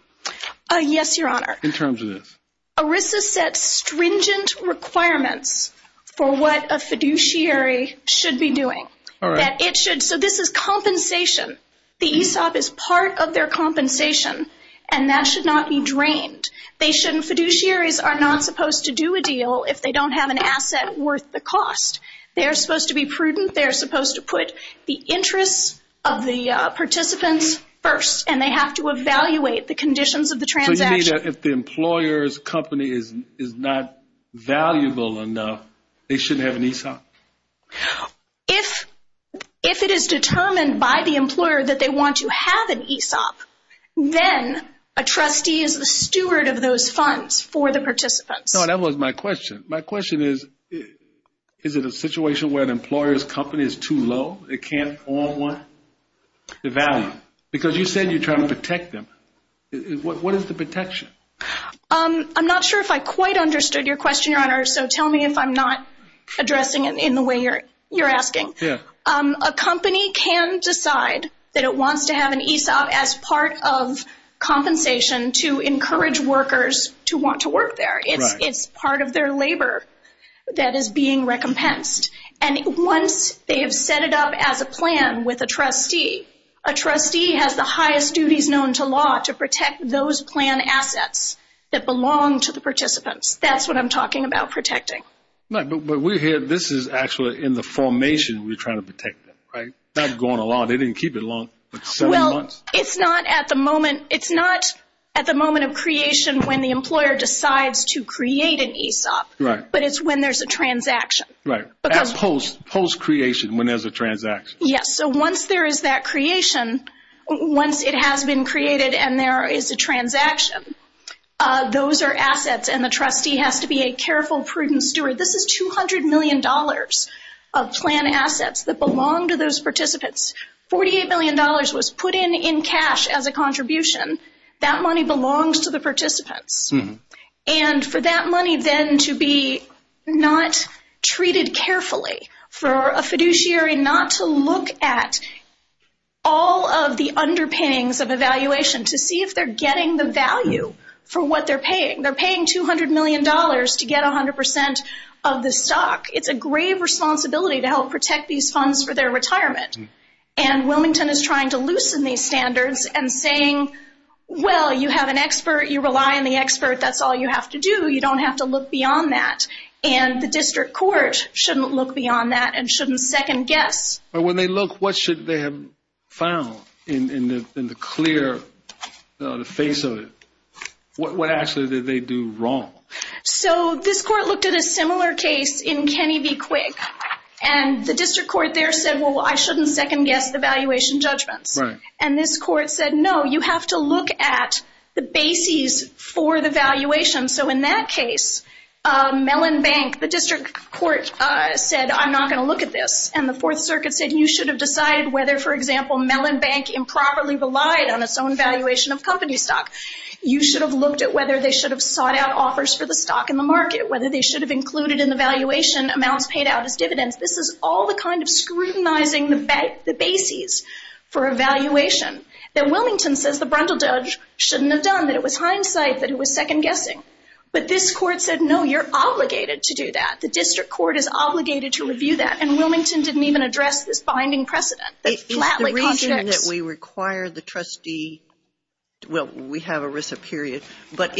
Yes, Your Honor. In terms of this? ERISA sets stringent requirements for what a fiduciary should be doing. So this is compensation. The ESOP is part of their compensation, and that should not be drained. Fiduciaries are not supposed to do a deal if they don't have an asset worth the cost. They are supposed to be prudent. They are supposed to put the interests of the participants first, and they have to evaluate the conditions of the transaction. So you mean that if the employer's company is not valuable enough, they shouldn't have an ESOP? If it is determined by the employer that they want to have an ESOP, then a trustee is the steward of those funds for the participants. No, that wasn't my question. My question is, is it a situation where an employer's company is too low? It can't afford the value? Because you said you're trying to protect them. What is the protection? I'm not sure if I quite understood your question, Your Honor, so tell me if I'm not addressing it in the way you're asking. A company can decide that it wants to have an ESOP as part of compensation to encourage workers to want to work there. It's part of their labor that is being recompensed. And once they have set it up as a plan with a trustee, a trustee has the highest duties known to law to protect those plan assets that belong to the participants. That's what I'm talking about protecting. But this is actually in the formation we're trying to protect them, right? Not going along. They didn't keep it long, like seven months. It's not at the moment of creation when the employer decides to create an ESOP, but it's when there's a transaction. Right, post-creation when there's a transaction. Yes, so once there is that creation, once it has been created and there is a transaction, those are assets, and the trustee has to be a careful, prudent steward. This is $200 million of plan assets that belong to those participants. $48 million was put in in cash as a contribution. That money belongs to the participants. And for that money then to be not treated carefully, for a fiduciary not to look at all of the underpayings of evaluation to see if they're getting the value for what they're paying. They're paying $200 million to get 100% of the stock. It's a grave responsibility to help protect these funds for their retirement. And Wilmington is trying to loosen these standards and saying, well, you have an expert, you rely on the expert, that's all you have to do. You don't have to look beyond that. And the district court shouldn't look beyond that and shouldn't second guess. When they look, what should they have found in the clear face of it? What actually did they do wrong? So this court looked at a similar case in Kenny v. Quigg. And the district court there said, well, I shouldn't second guess the valuation judgments. And this court said, no, you have to look at the bases for the valuation. So in that case, Mellon Bank, the district court said, I'm not going to look at this. And the Fourth Circuit said you should have decided whether, for example, Mellon Bank improperly relied on its own valuation of company stock. You should have looked at whether they should have sought out offers for the stock in the market, whether they should have included in the valuation amounts paid out as dividends. This is all the kind of scrutinizing the bases for a valuation that Wilmington says the brundle judge shouldn't have done, that it was hindsight, that it was second guessing. But this court said, no, you're obligated to do that. The district court is obligated to review that. And Wilmington didn't even address this binding precedent. The reason that we require the trustee, well, we have a risk of period. But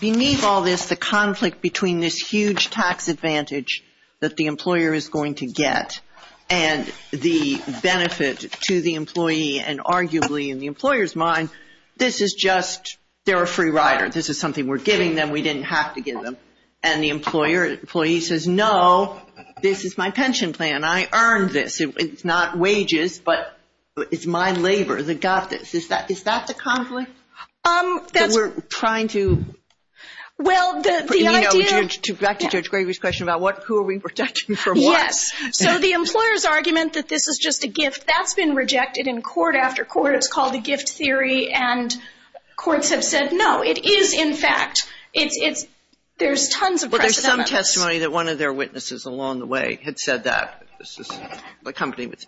beneath all this, the conflict between this huge tax advantage that the employer is going to get and the benefit to the employee and arguably in the employer's mind, this is just, they're a free rider. This is something we're giving them. We didn't have to give them. And the employee says, no, this is my pension plan. I earned this. It's not wages, but it's my labor that got this. Is that the conflict that we're trying to, you know, back to Judge Gregory's question about who are we protecting from what? Yes. So the employer's argument that this is just a gift, that's been rejected in court after court. It's called the gift theory. And courts have said, no, it is in fact. There's tons of precedent on this. There was a testimony that one of their witnesses along the way had said that.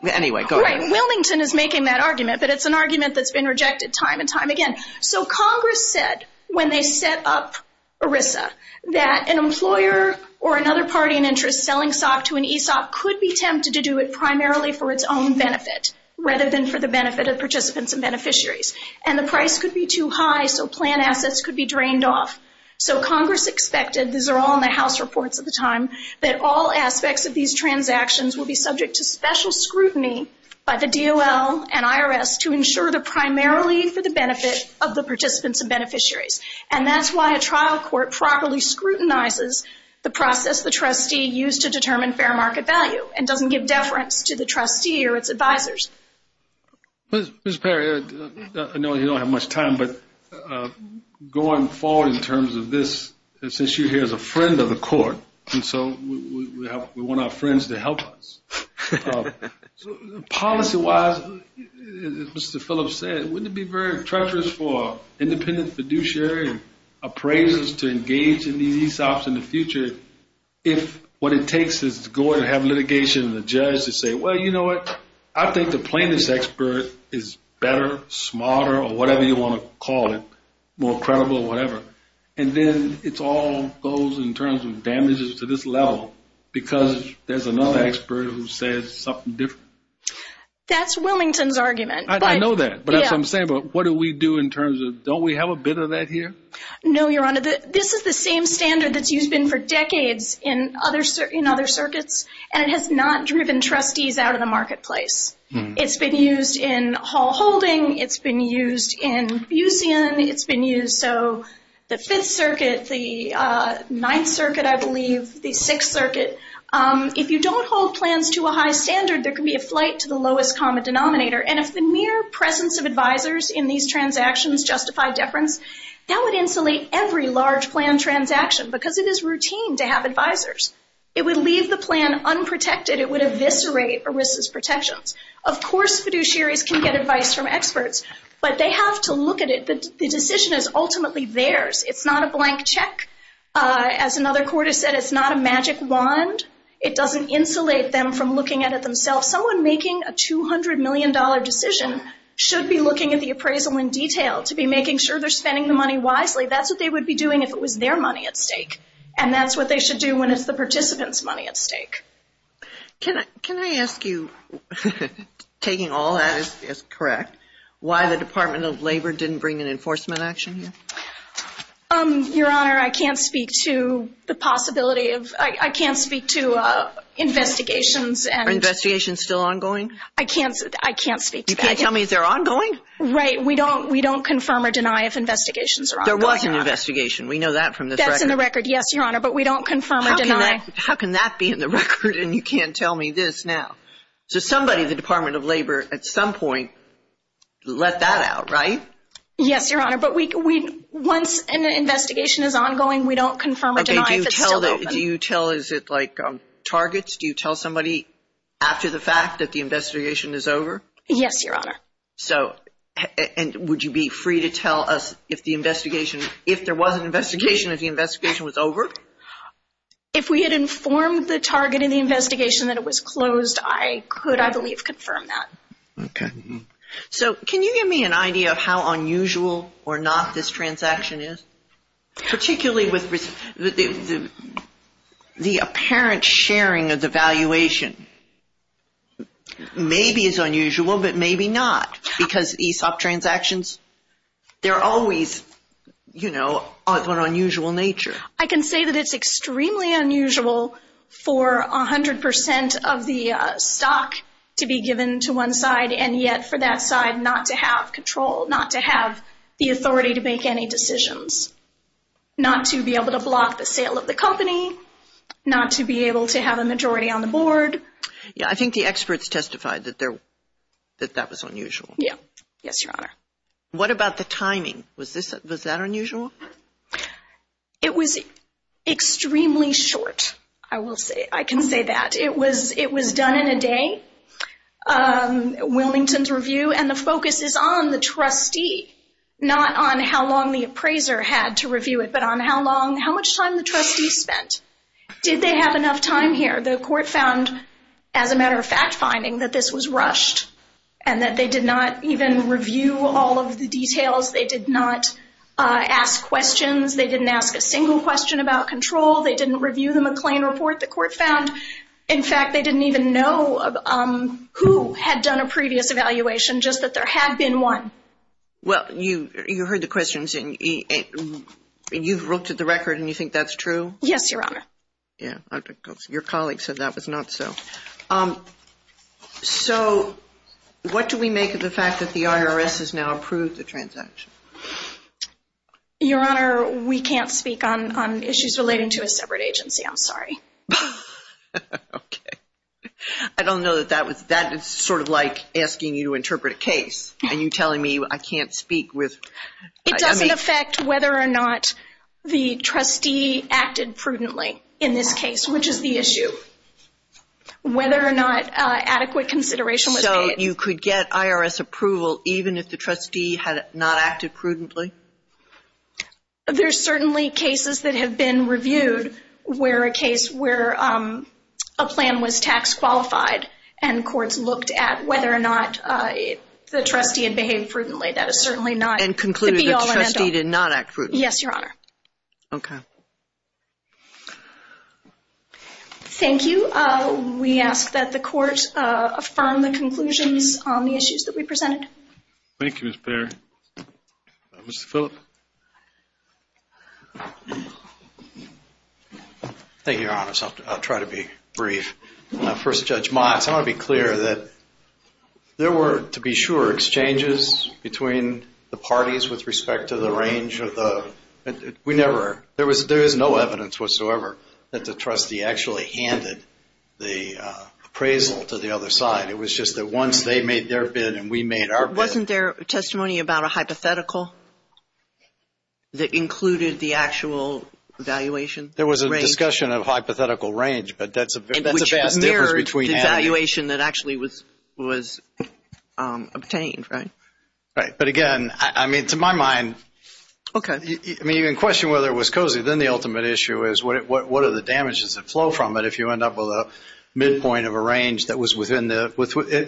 Anyway, go ahead. Wellington is making that argument, but it's an argument that's been rejected time and time again. So Congress said when they set up ERISA that an employer or another party in interest selling SOC to an ESOP could be tempted to do it primarily for its own benefit rather than for the benefit of participants and beneficiaries. And the price could be too high, so plan assets could be drained off. So Congress expected, these are all in the House reports at the time, that all aspects of these transactions will be subject to special scrutiny by the DOL and IRS to ensure they're primarily for the benefit of the participants and beneficiaries. And that's why a trial court properly scrutinizes the process the trustee used to determine fair market value and doesn't give deference to the trustee or its advisors. Mr. Perry, I know you don't have much time, but going forward in terms of this, this issue here is a friend of the court, and so we want our friends to help us. Policy-wise, as Mr. Phillips said, wouldn't it be very treacherous for independent fiduciary appraisers to engage in these ESOPs in the future if what it takes is to go and have litigation and the judge say, well, you know what, I think the plaintiff's expert is better, smarter, or whatever you want to call it, more credible or whatever. And then it all goes in terms of damages to this level because there's another expert who says something different. That's Wilmington's argument. I know that, but that's what I'm saying, but what do we do in terms of, don't we have a bit of that here? No, Your Honor, this is the same standard that's used for decades in other circuits, and it has not driven trustees out of the marketplace. It's been used in Hall Holding. It's been used in Bucion. It's been used, so the Fifth Circuit, the Ninth Circuit, I believe, the Sixth Circuit. If you don't hold plans to a high standard, there can be a flight to the lowest common denominator, and if the mere presence of advisors in these transactions justify deference, that would insulate every large plan transaction because it is routine to have advisors. It would leave the plan unprotected. It would eviscerate ERISA's protections. Of course, fiduciaries can get advice from experts, but they have to look at it. The decision is ultimately theirs. It's not a blank check. As another court has said, it's not a magic wand. It doesn't insulate them from looking at it themselves. Someone making a $200 million decision should be looking at the appraisal in detail to be making sure they're spending the money wisely. That's what they would be doing if it was their money at stake, and that's what they should do when it's the participant's money at stake. Can I ask you, taking all that as correct, why the Department of Labor didn't bring an enforcement action here? Your Honor, I can't speak to the possibility of – I can't speak to investigations. Are investigations still ongoing? I can't speak to that. You can't tell me if they're ongoing? Right. We don't confirm or deny if investigations are ongoing. There was an investigation. We know that from this record. Yes, Your Honor, but we don't confirm or deny. How can that be in the record and you can't tell me this now? So somebody, the Department of Labor, at some point let that out, right? Yes, Your Honor, but once an investigation is ongoing, we don't confirm or deny if it's still open. Do you tell – is it like targets? Do you tell somebody after the fact that the investigation is over? Yes, Your Honor. So would you be free to tell us if the investigation – If we had informed the target in the investigation that it was closed, I could, I believe, confirm that. Okay. So can you give me an idea of how unusual or not this transaction is, particularly with the apparent sharing of the valuation? Maybe it's unusual but maybe not because ESOP transactions, they're always, you know, of an unusual nature. I can say that it's extremely unusual for 100% of the stock to be given to one side and yet for that side not to have control, not to have the authority to make any decisions, not to be able to block the sale of the company, not to be able to have a majority on the board. Yeah, I think the experts testified that that was unusual. Yeah, yes, Your Honor. What about the timing? Was that unusual? It was extremely short, I will say. I can say that. It was done in a day, Wilmington's review, and the focus is on the trustee, not on how long the appraiser had to review it but on how much time the trustee spent. Did they have enough time here? The court found, as a matter of fact finding, that this was rushed and that they did not even review all of the details. They did not ask questions. They didn't ask a single question about control. They didn't review the McLean report the court found. In fact, they didn't even know who had done a previous evaluation, just that there had been one. Well, you heard the questions and you've looked at the record and you think that's true? Yes, Your Honor. Yeah, your colleague said that was not so. So what do we make of the fact that the IRS has now approved the transaction? Your Honor, we can't speak on issues relating to a separate agency. I'm sorry. Okay. I don't know that that is sort of like asking you to interpret a case and you telling me I can't speak with. It doesn't affect whether or not the trustee acted prudently in this case, which is the issue, whether or not adequate consideration was made. So you could get IRS approval even if the trustee had not acted prudently? There's certainly cases that have been reviewed where a case where a plan was tax qualified and courts looked at whether or not the trustee had behaved prudently. That is certainly not the be-all and end-all. And concluded the trustee did not act prudently? Yes, Your Honor. Okay. Thank you. We ask that the court affirm the conclusions on the issues that we presented. Thank you, Ms. Bair. Mr. Phillip. Thank you, Your Honor. I'll try to be brief. First, Judge Motz, I want to be clear that there were, to be sure, exchanges between the parties with respect to the range of the, we never, there is no evidence whatsoever that the trustee actually handed the appraisal to the other side. It was just that once they made their bid and we made our bid. Wasn't there testimony about a hypothetical that included the actual valuation? There was a discussion of hypothetical range, but that's a vast difference between having it. Right. But, again, I mean, to my mind. Okay. I mean, in question whether it was cozy, then the ultimate issue is what are the damages that flow from it if you end up with a midpoint of a range that was within the,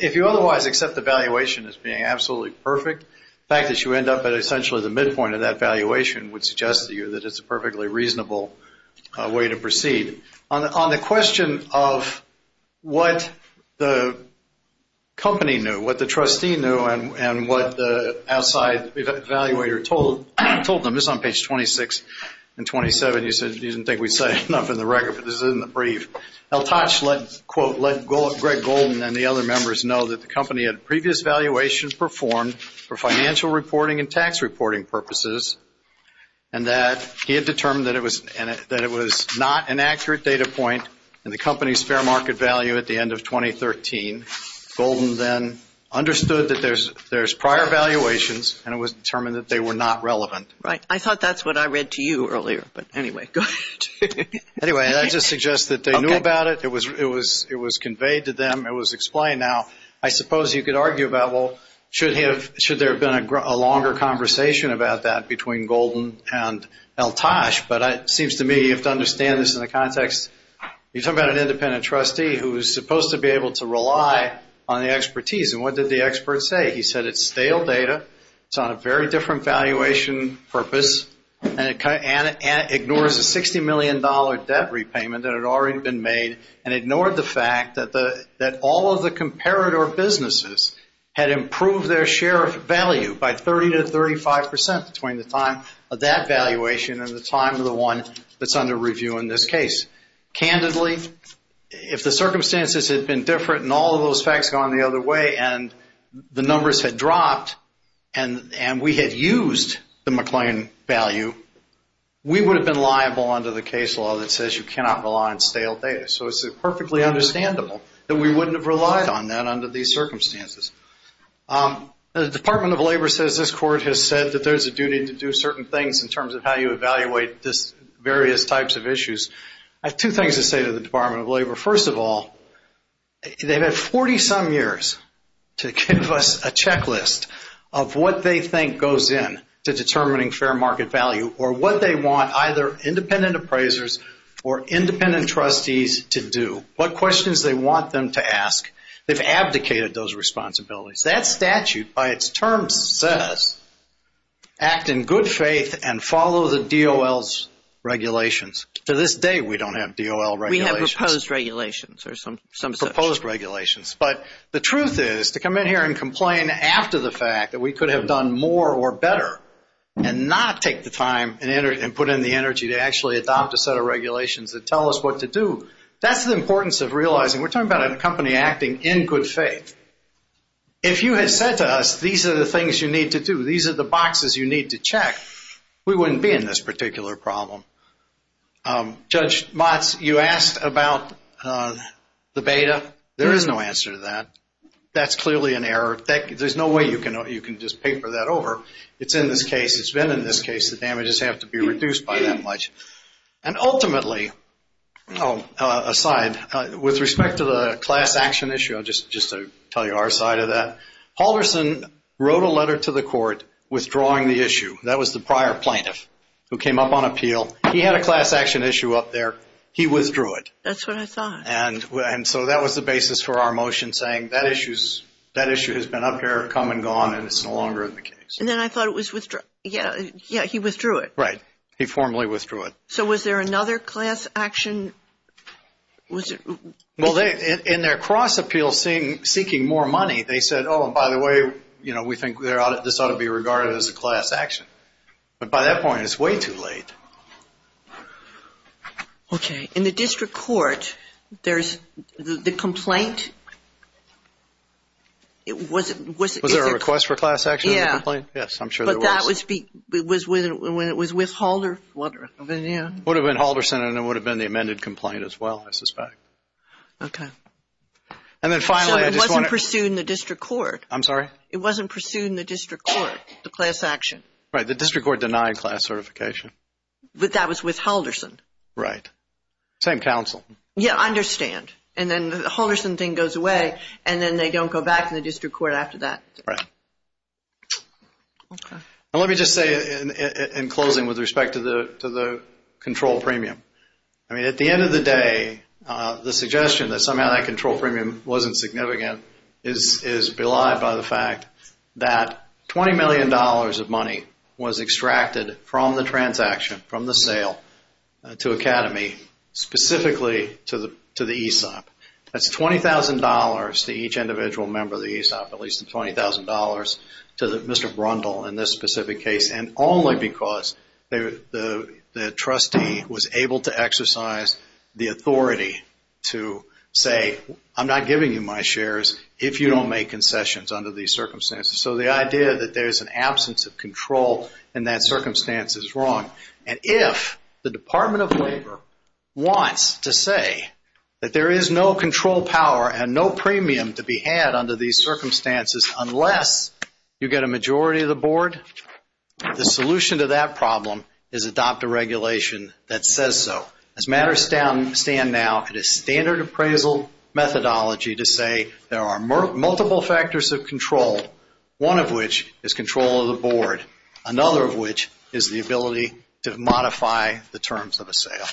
if you otherwise accept the valuation as being absolutely perfect, the fact that you end up at essentially the midpoint of that valuation would suggest to you that it's a perfectly reasonable way to proceed. On the question of what the company knew, what the trustee knew, and what the outside evaluator told them, this is on page 26 and 27. You said you didn't think we'd say enough in the record, but this is in the brief. El Toch, quote, let Greg Golden and the other members know that the company had previous valuations performed for financial reporting and tax reporting purposes, and that he had determined that it was not an accurate data point in the company's fair market value at the end of 2013. Golden then understood that there's prior valuations, and it was determined that they were not relevant. Right. I thought that's what I read to you earlier. But, anyway, go ahead. Anyway, that just suggests that they knew about it. It was conveyed to them. It was explained. Now, I suppose you could argue about, well, should there have been a longer conversation about that between Golden and El Toch? But it seems to me you have to understand this in the context. You're talking about an independent trustee who is supposed to be able to rely on the expertise. And what did the expert say? He said it's stale data, it's on a very different valuation purpose, and it ignores a $60 million debt repayment that had already been made and ignored the fact that all of the comparator businesses had improved their share of value by 30% to 35% between the time of that valuation and the time of the one that's under review in this case. Candidly, if the circumstances had been different and all of those facts had gone the other way and the numbers had dropped and we had used the McLean value, we would have been liable under the case law that says you cannot rely on stale data. So it's perfectly understandable that we wouldn't have relied on that under these circumstances. The Department of Labor says this court has said that there's a duty to do certain things in terms of how you evaluate various types of issues. I have two things to say to the Department of Labor. First of all, they've had 40-some years to give us a checklist of what they think goes in to determining fair market value or what they want either independent appraisers or independent trustees to do, what questions they want them to ask. They've abdicated those responsibilities. That statute, by its terms, says act in good faith and follow the DOL's regulations. To this day, we don't have DOL regulations. Proposed regulations or some such. Proposed regulations. But the truth is to come in here and complain after the fact that we could have done more or better and not take the time and put in the energy to actually adopt a set of regulations that tell us what to do, that's the importance of realizing we're talking about a company acting in good faith. If you had said to us these are the things you need to do, these are the boxes you need to check, we wouldn't be in this particular problem. Judge Motz, you asked about the beta. There is no answer to that. That's clearly an error. There's no way you can just paper that over. It's in this case. It's been in this case. The damages have to be reduced by that much. And ultimately, aside, with respect to the class action issue, just to tell you our side of that, Halverson wrote a letter to the court withdrawing the issue. That was the prior plaintiff who came up on appeal. He had a class action issue up there. He withdrew it. That's what I thought. And so that was the basis for our motion saying that issue has been up there, come and gone, and it's no longer in the case. And then I thought it was withdrawal. Yeah, he withdrew it. Right. He formally withdrew it. So was there another class action? Well, in their cross appeal seeking more money, they said, oh, and by the way, you know, we think this ought to be regarded as a class action. But by that point, it's way too late. Okay. In the district court, there's the complaint. Was there a request for class action? Yeah. Yes, I'm sure there was. But that was with Halverson. It would have been Halverson, and it would have been the amended complaint as well, I suspect. Okay. So it wasn't pursued in the district court? I'm sorry? It wasn't pursued in the district court, the class action? Right. The district court denied class certification. But that was with Halverson. Right. Same counsel. Yeah, I understand. And then the Halverson thing goes away, and then they don't go back to the district court after that. Right. Okay. Let me just say in closing with respect to the control premium, I mean, at the end of the day, the suggestion that somehow that control premium wasn't significant is belied by the fact that $20 million of money was extracted from the transaction, from the sale to Academy, specifically to the ESOP. That's $20,000 to each individual member of the ESOP, at least $20,000 to Mr. Brundle in this specific case, and only because the trustee was able to exercise the authority to say, I'm not giving you my shares if you don't make concessions under these circumstances. So the idea that there's an absence of control in that circumstance is wrong. And if the Department of Labor wants to say that there is no control power and no premium to be had under these circumstances unless you get a majority of the board, the solution to that problem is adopt a regulation that says so. As matters stand now, it is standard appraisal methodology to say there are multiple factors of control, one of which is control of the board, another of which is the ability to modify the terms of a sale.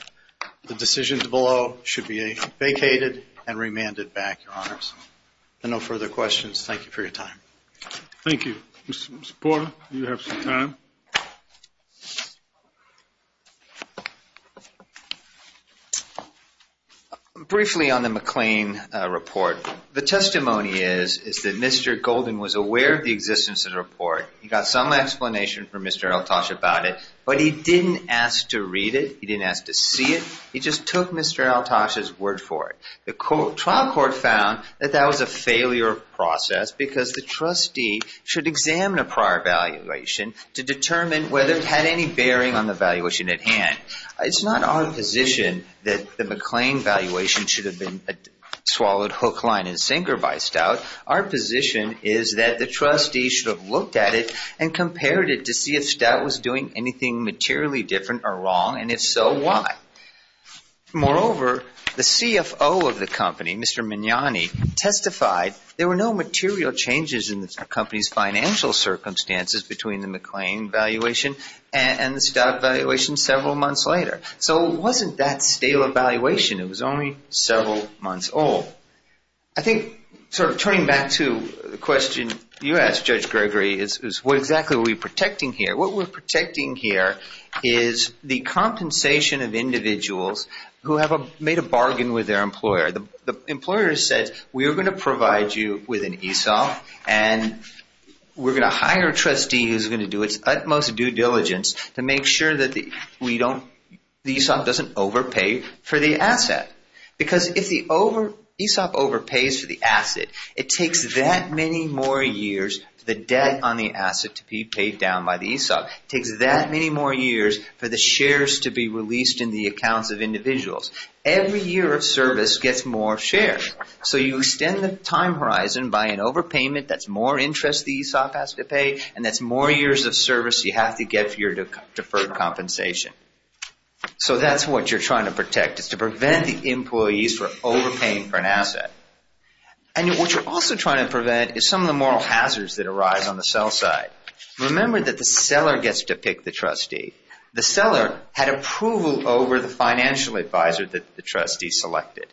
The decisions below should be vacated and remanded back, Your Honors. And no further questions. Thank you for your time. Thank you. Mr. Porter, you have some time. Briefly on the McLean report, the testimony is that Mr. Golden was aware of the existence of the report. He got some explanation from Mr. Eltash about it, but he didn't ask to read it. He didn't ask to see it. He just took Mr. Eltash's word for it. The trial court found that that was a failure of process because the trustee should examine a prior evaluation to determine whether it had any bearing on the valuation at hand. It's not our position that the McLean valuation should have been swallowed hook, line, and sinker by Stout. Our position is that the trustee should have looked at it and compared it to see if Stout was doing anything materially different or wrong, and if so, why? Moreover, the CFO of the company, Mr. Magnani, testified there were no material changes in the company's financial circumstances between the McLean valuation and the Stout valuation several months later. So it wasn't that stale evaluation. It was only several months old. I think sort of turning back to the question you asked, Judge Gregory, is what exactly are we protecting here? What we're protecting here is the compensation of individuals who have made a bargain with their employer. The employer said, we are going to provide you with an ESOP, and we're going to hire a trustee who's going to do its utmost due diligence to make sure that the ESOP doesn't overpay for the asset. Because if the ESOP overpays for the asset, it takes that many more years for the debt on the asset to be paid down by the ESOP. It takes that many more years for the shares to be released in the accounts of individuals. Every year of service gets more shares. So you extend the time horizon by an overpayment that's more interest the ESOP has to pay, and that's more years of service you have to get for your deferred compensation. So that's what you're trying to protect is to prevent the employees from overpaying for an asset. And what you're also trying to prevent is some of the moral hazards that arise on the sell side. Remember that the seller gets to pick the trustee. The seller had approval over the financial advisor that the trustee selected.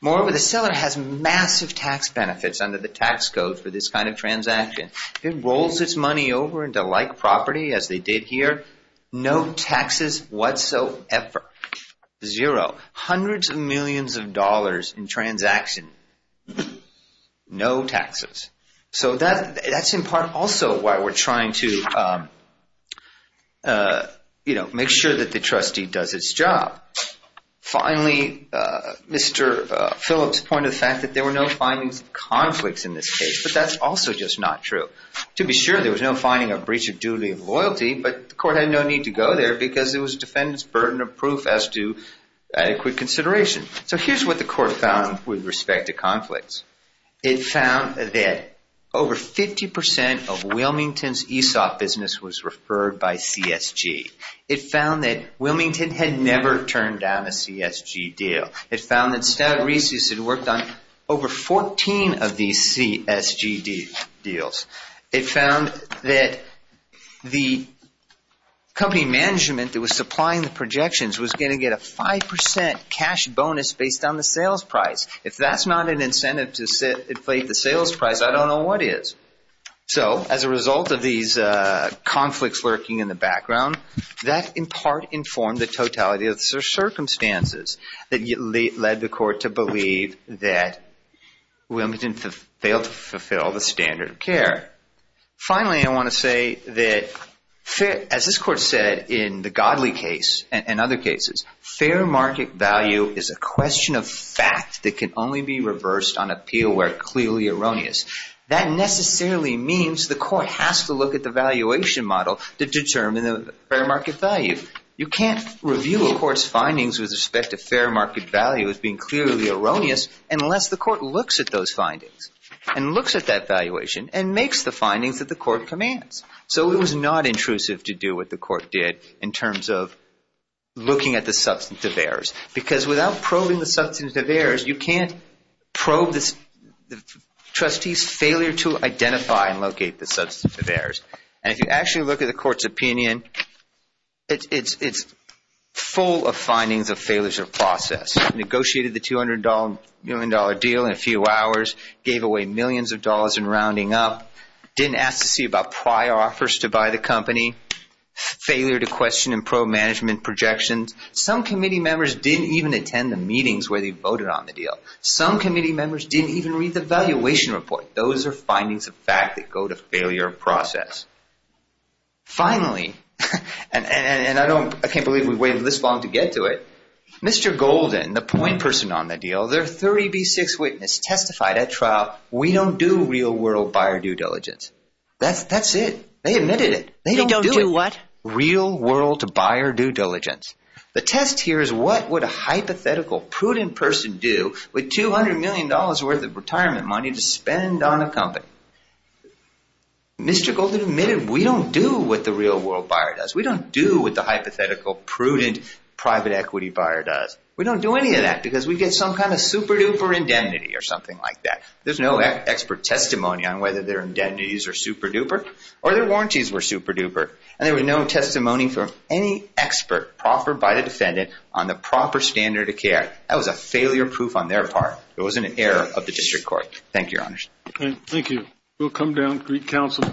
Moreover, the seller has massive tax benefits under the tax code for this kind of transaction. If it rolls its money over into like property, as they did here, no taxes whatsoever. Zero. Hundreds of millions of dollars in transaction. No taxes. So that's in part also why we're trying to make sure that the trustee does its job. Finally, Mr. Phillips pointed to the fact that there were no findings of conflicts in this case, but that's also just not true. To be sure, there was no finding of breach of duty of loyalty, but the court had no need to go there because it was a defendant's burden of proof as to adequate consideration. So here's what the court found with respect to conflicts. It found that over 50% of Wilmington's ESOP business was referred by CSG. It found that Wilmington had never turned down a CSG deal. It found that Stavrisius had worked on over 14 of these CSG deals. It found that the company management that was supplying the projections was going to get a 5% cash bonus based on the sales price. If that's not an incentive to inflate the sales price, I don't know what is. So as a result of these conflicts lurking in the background, that in part informed the totality of the circumstances that led the court to believe that Wilmington failed to fulfill the standard of care. Finally, I want to say that as this court said in the Godley case and other cases, fair market value is a question of fact that can only be reversed on appeal where clearly erroneous. That necessarily means the court has to look at the valuation model to determine the fair market value. You can't review a court's findings with respect to fair market value as being clearly erroneous unless the court looks at those findings and looks at that valuation and makes the findings that the court commands. So it was not intrusive to do what the court did in terms of looking at the substantive errors because without probing the substantive errors, you can't probe the trustee's failure to identify and locate the substantive errors. And if you actually look at the court's opinion, it's full of findings of failures of process. Negotiated the $200 million deal in a few hours. Gave away millions of dollars in rounding up. Didn't ask to see about prior offers to buy the company. Failure to question and probe management projections. Some committee members didn't even attend the meetings where they voted on the deal. Some committee members didn't even read the valuation report. Those are findings of fact that go to failure of process. Finally, and I can't believe we waited this long to get to it, Mr. Golden, the point person on the deal, their 30B6 witness testified at trial, we don't do real world buyer due diligence. That's it. They admitted it. They don't do what? Real world buyer due diligence. The test here is what would a hypothetical prudent person do with $200 million worth of retirement money to spend on a company? Mr. Golden admitted we don't do what the real world buyer does. We don't do what the hypothetical prudent private equity buyer does. We don't do any of that because we get some kind of super duper indemnity or something like that. There's no expert testimony on whether their indemnities are super duper or their warranties were super duper. And there was no testimony from any expert proffered by the defendant on the proper standard of care. That was a failure proof on their part. It wasn't an error of the district court. Thank you, Your Honor. Thank you. We'll come down and greet counsel.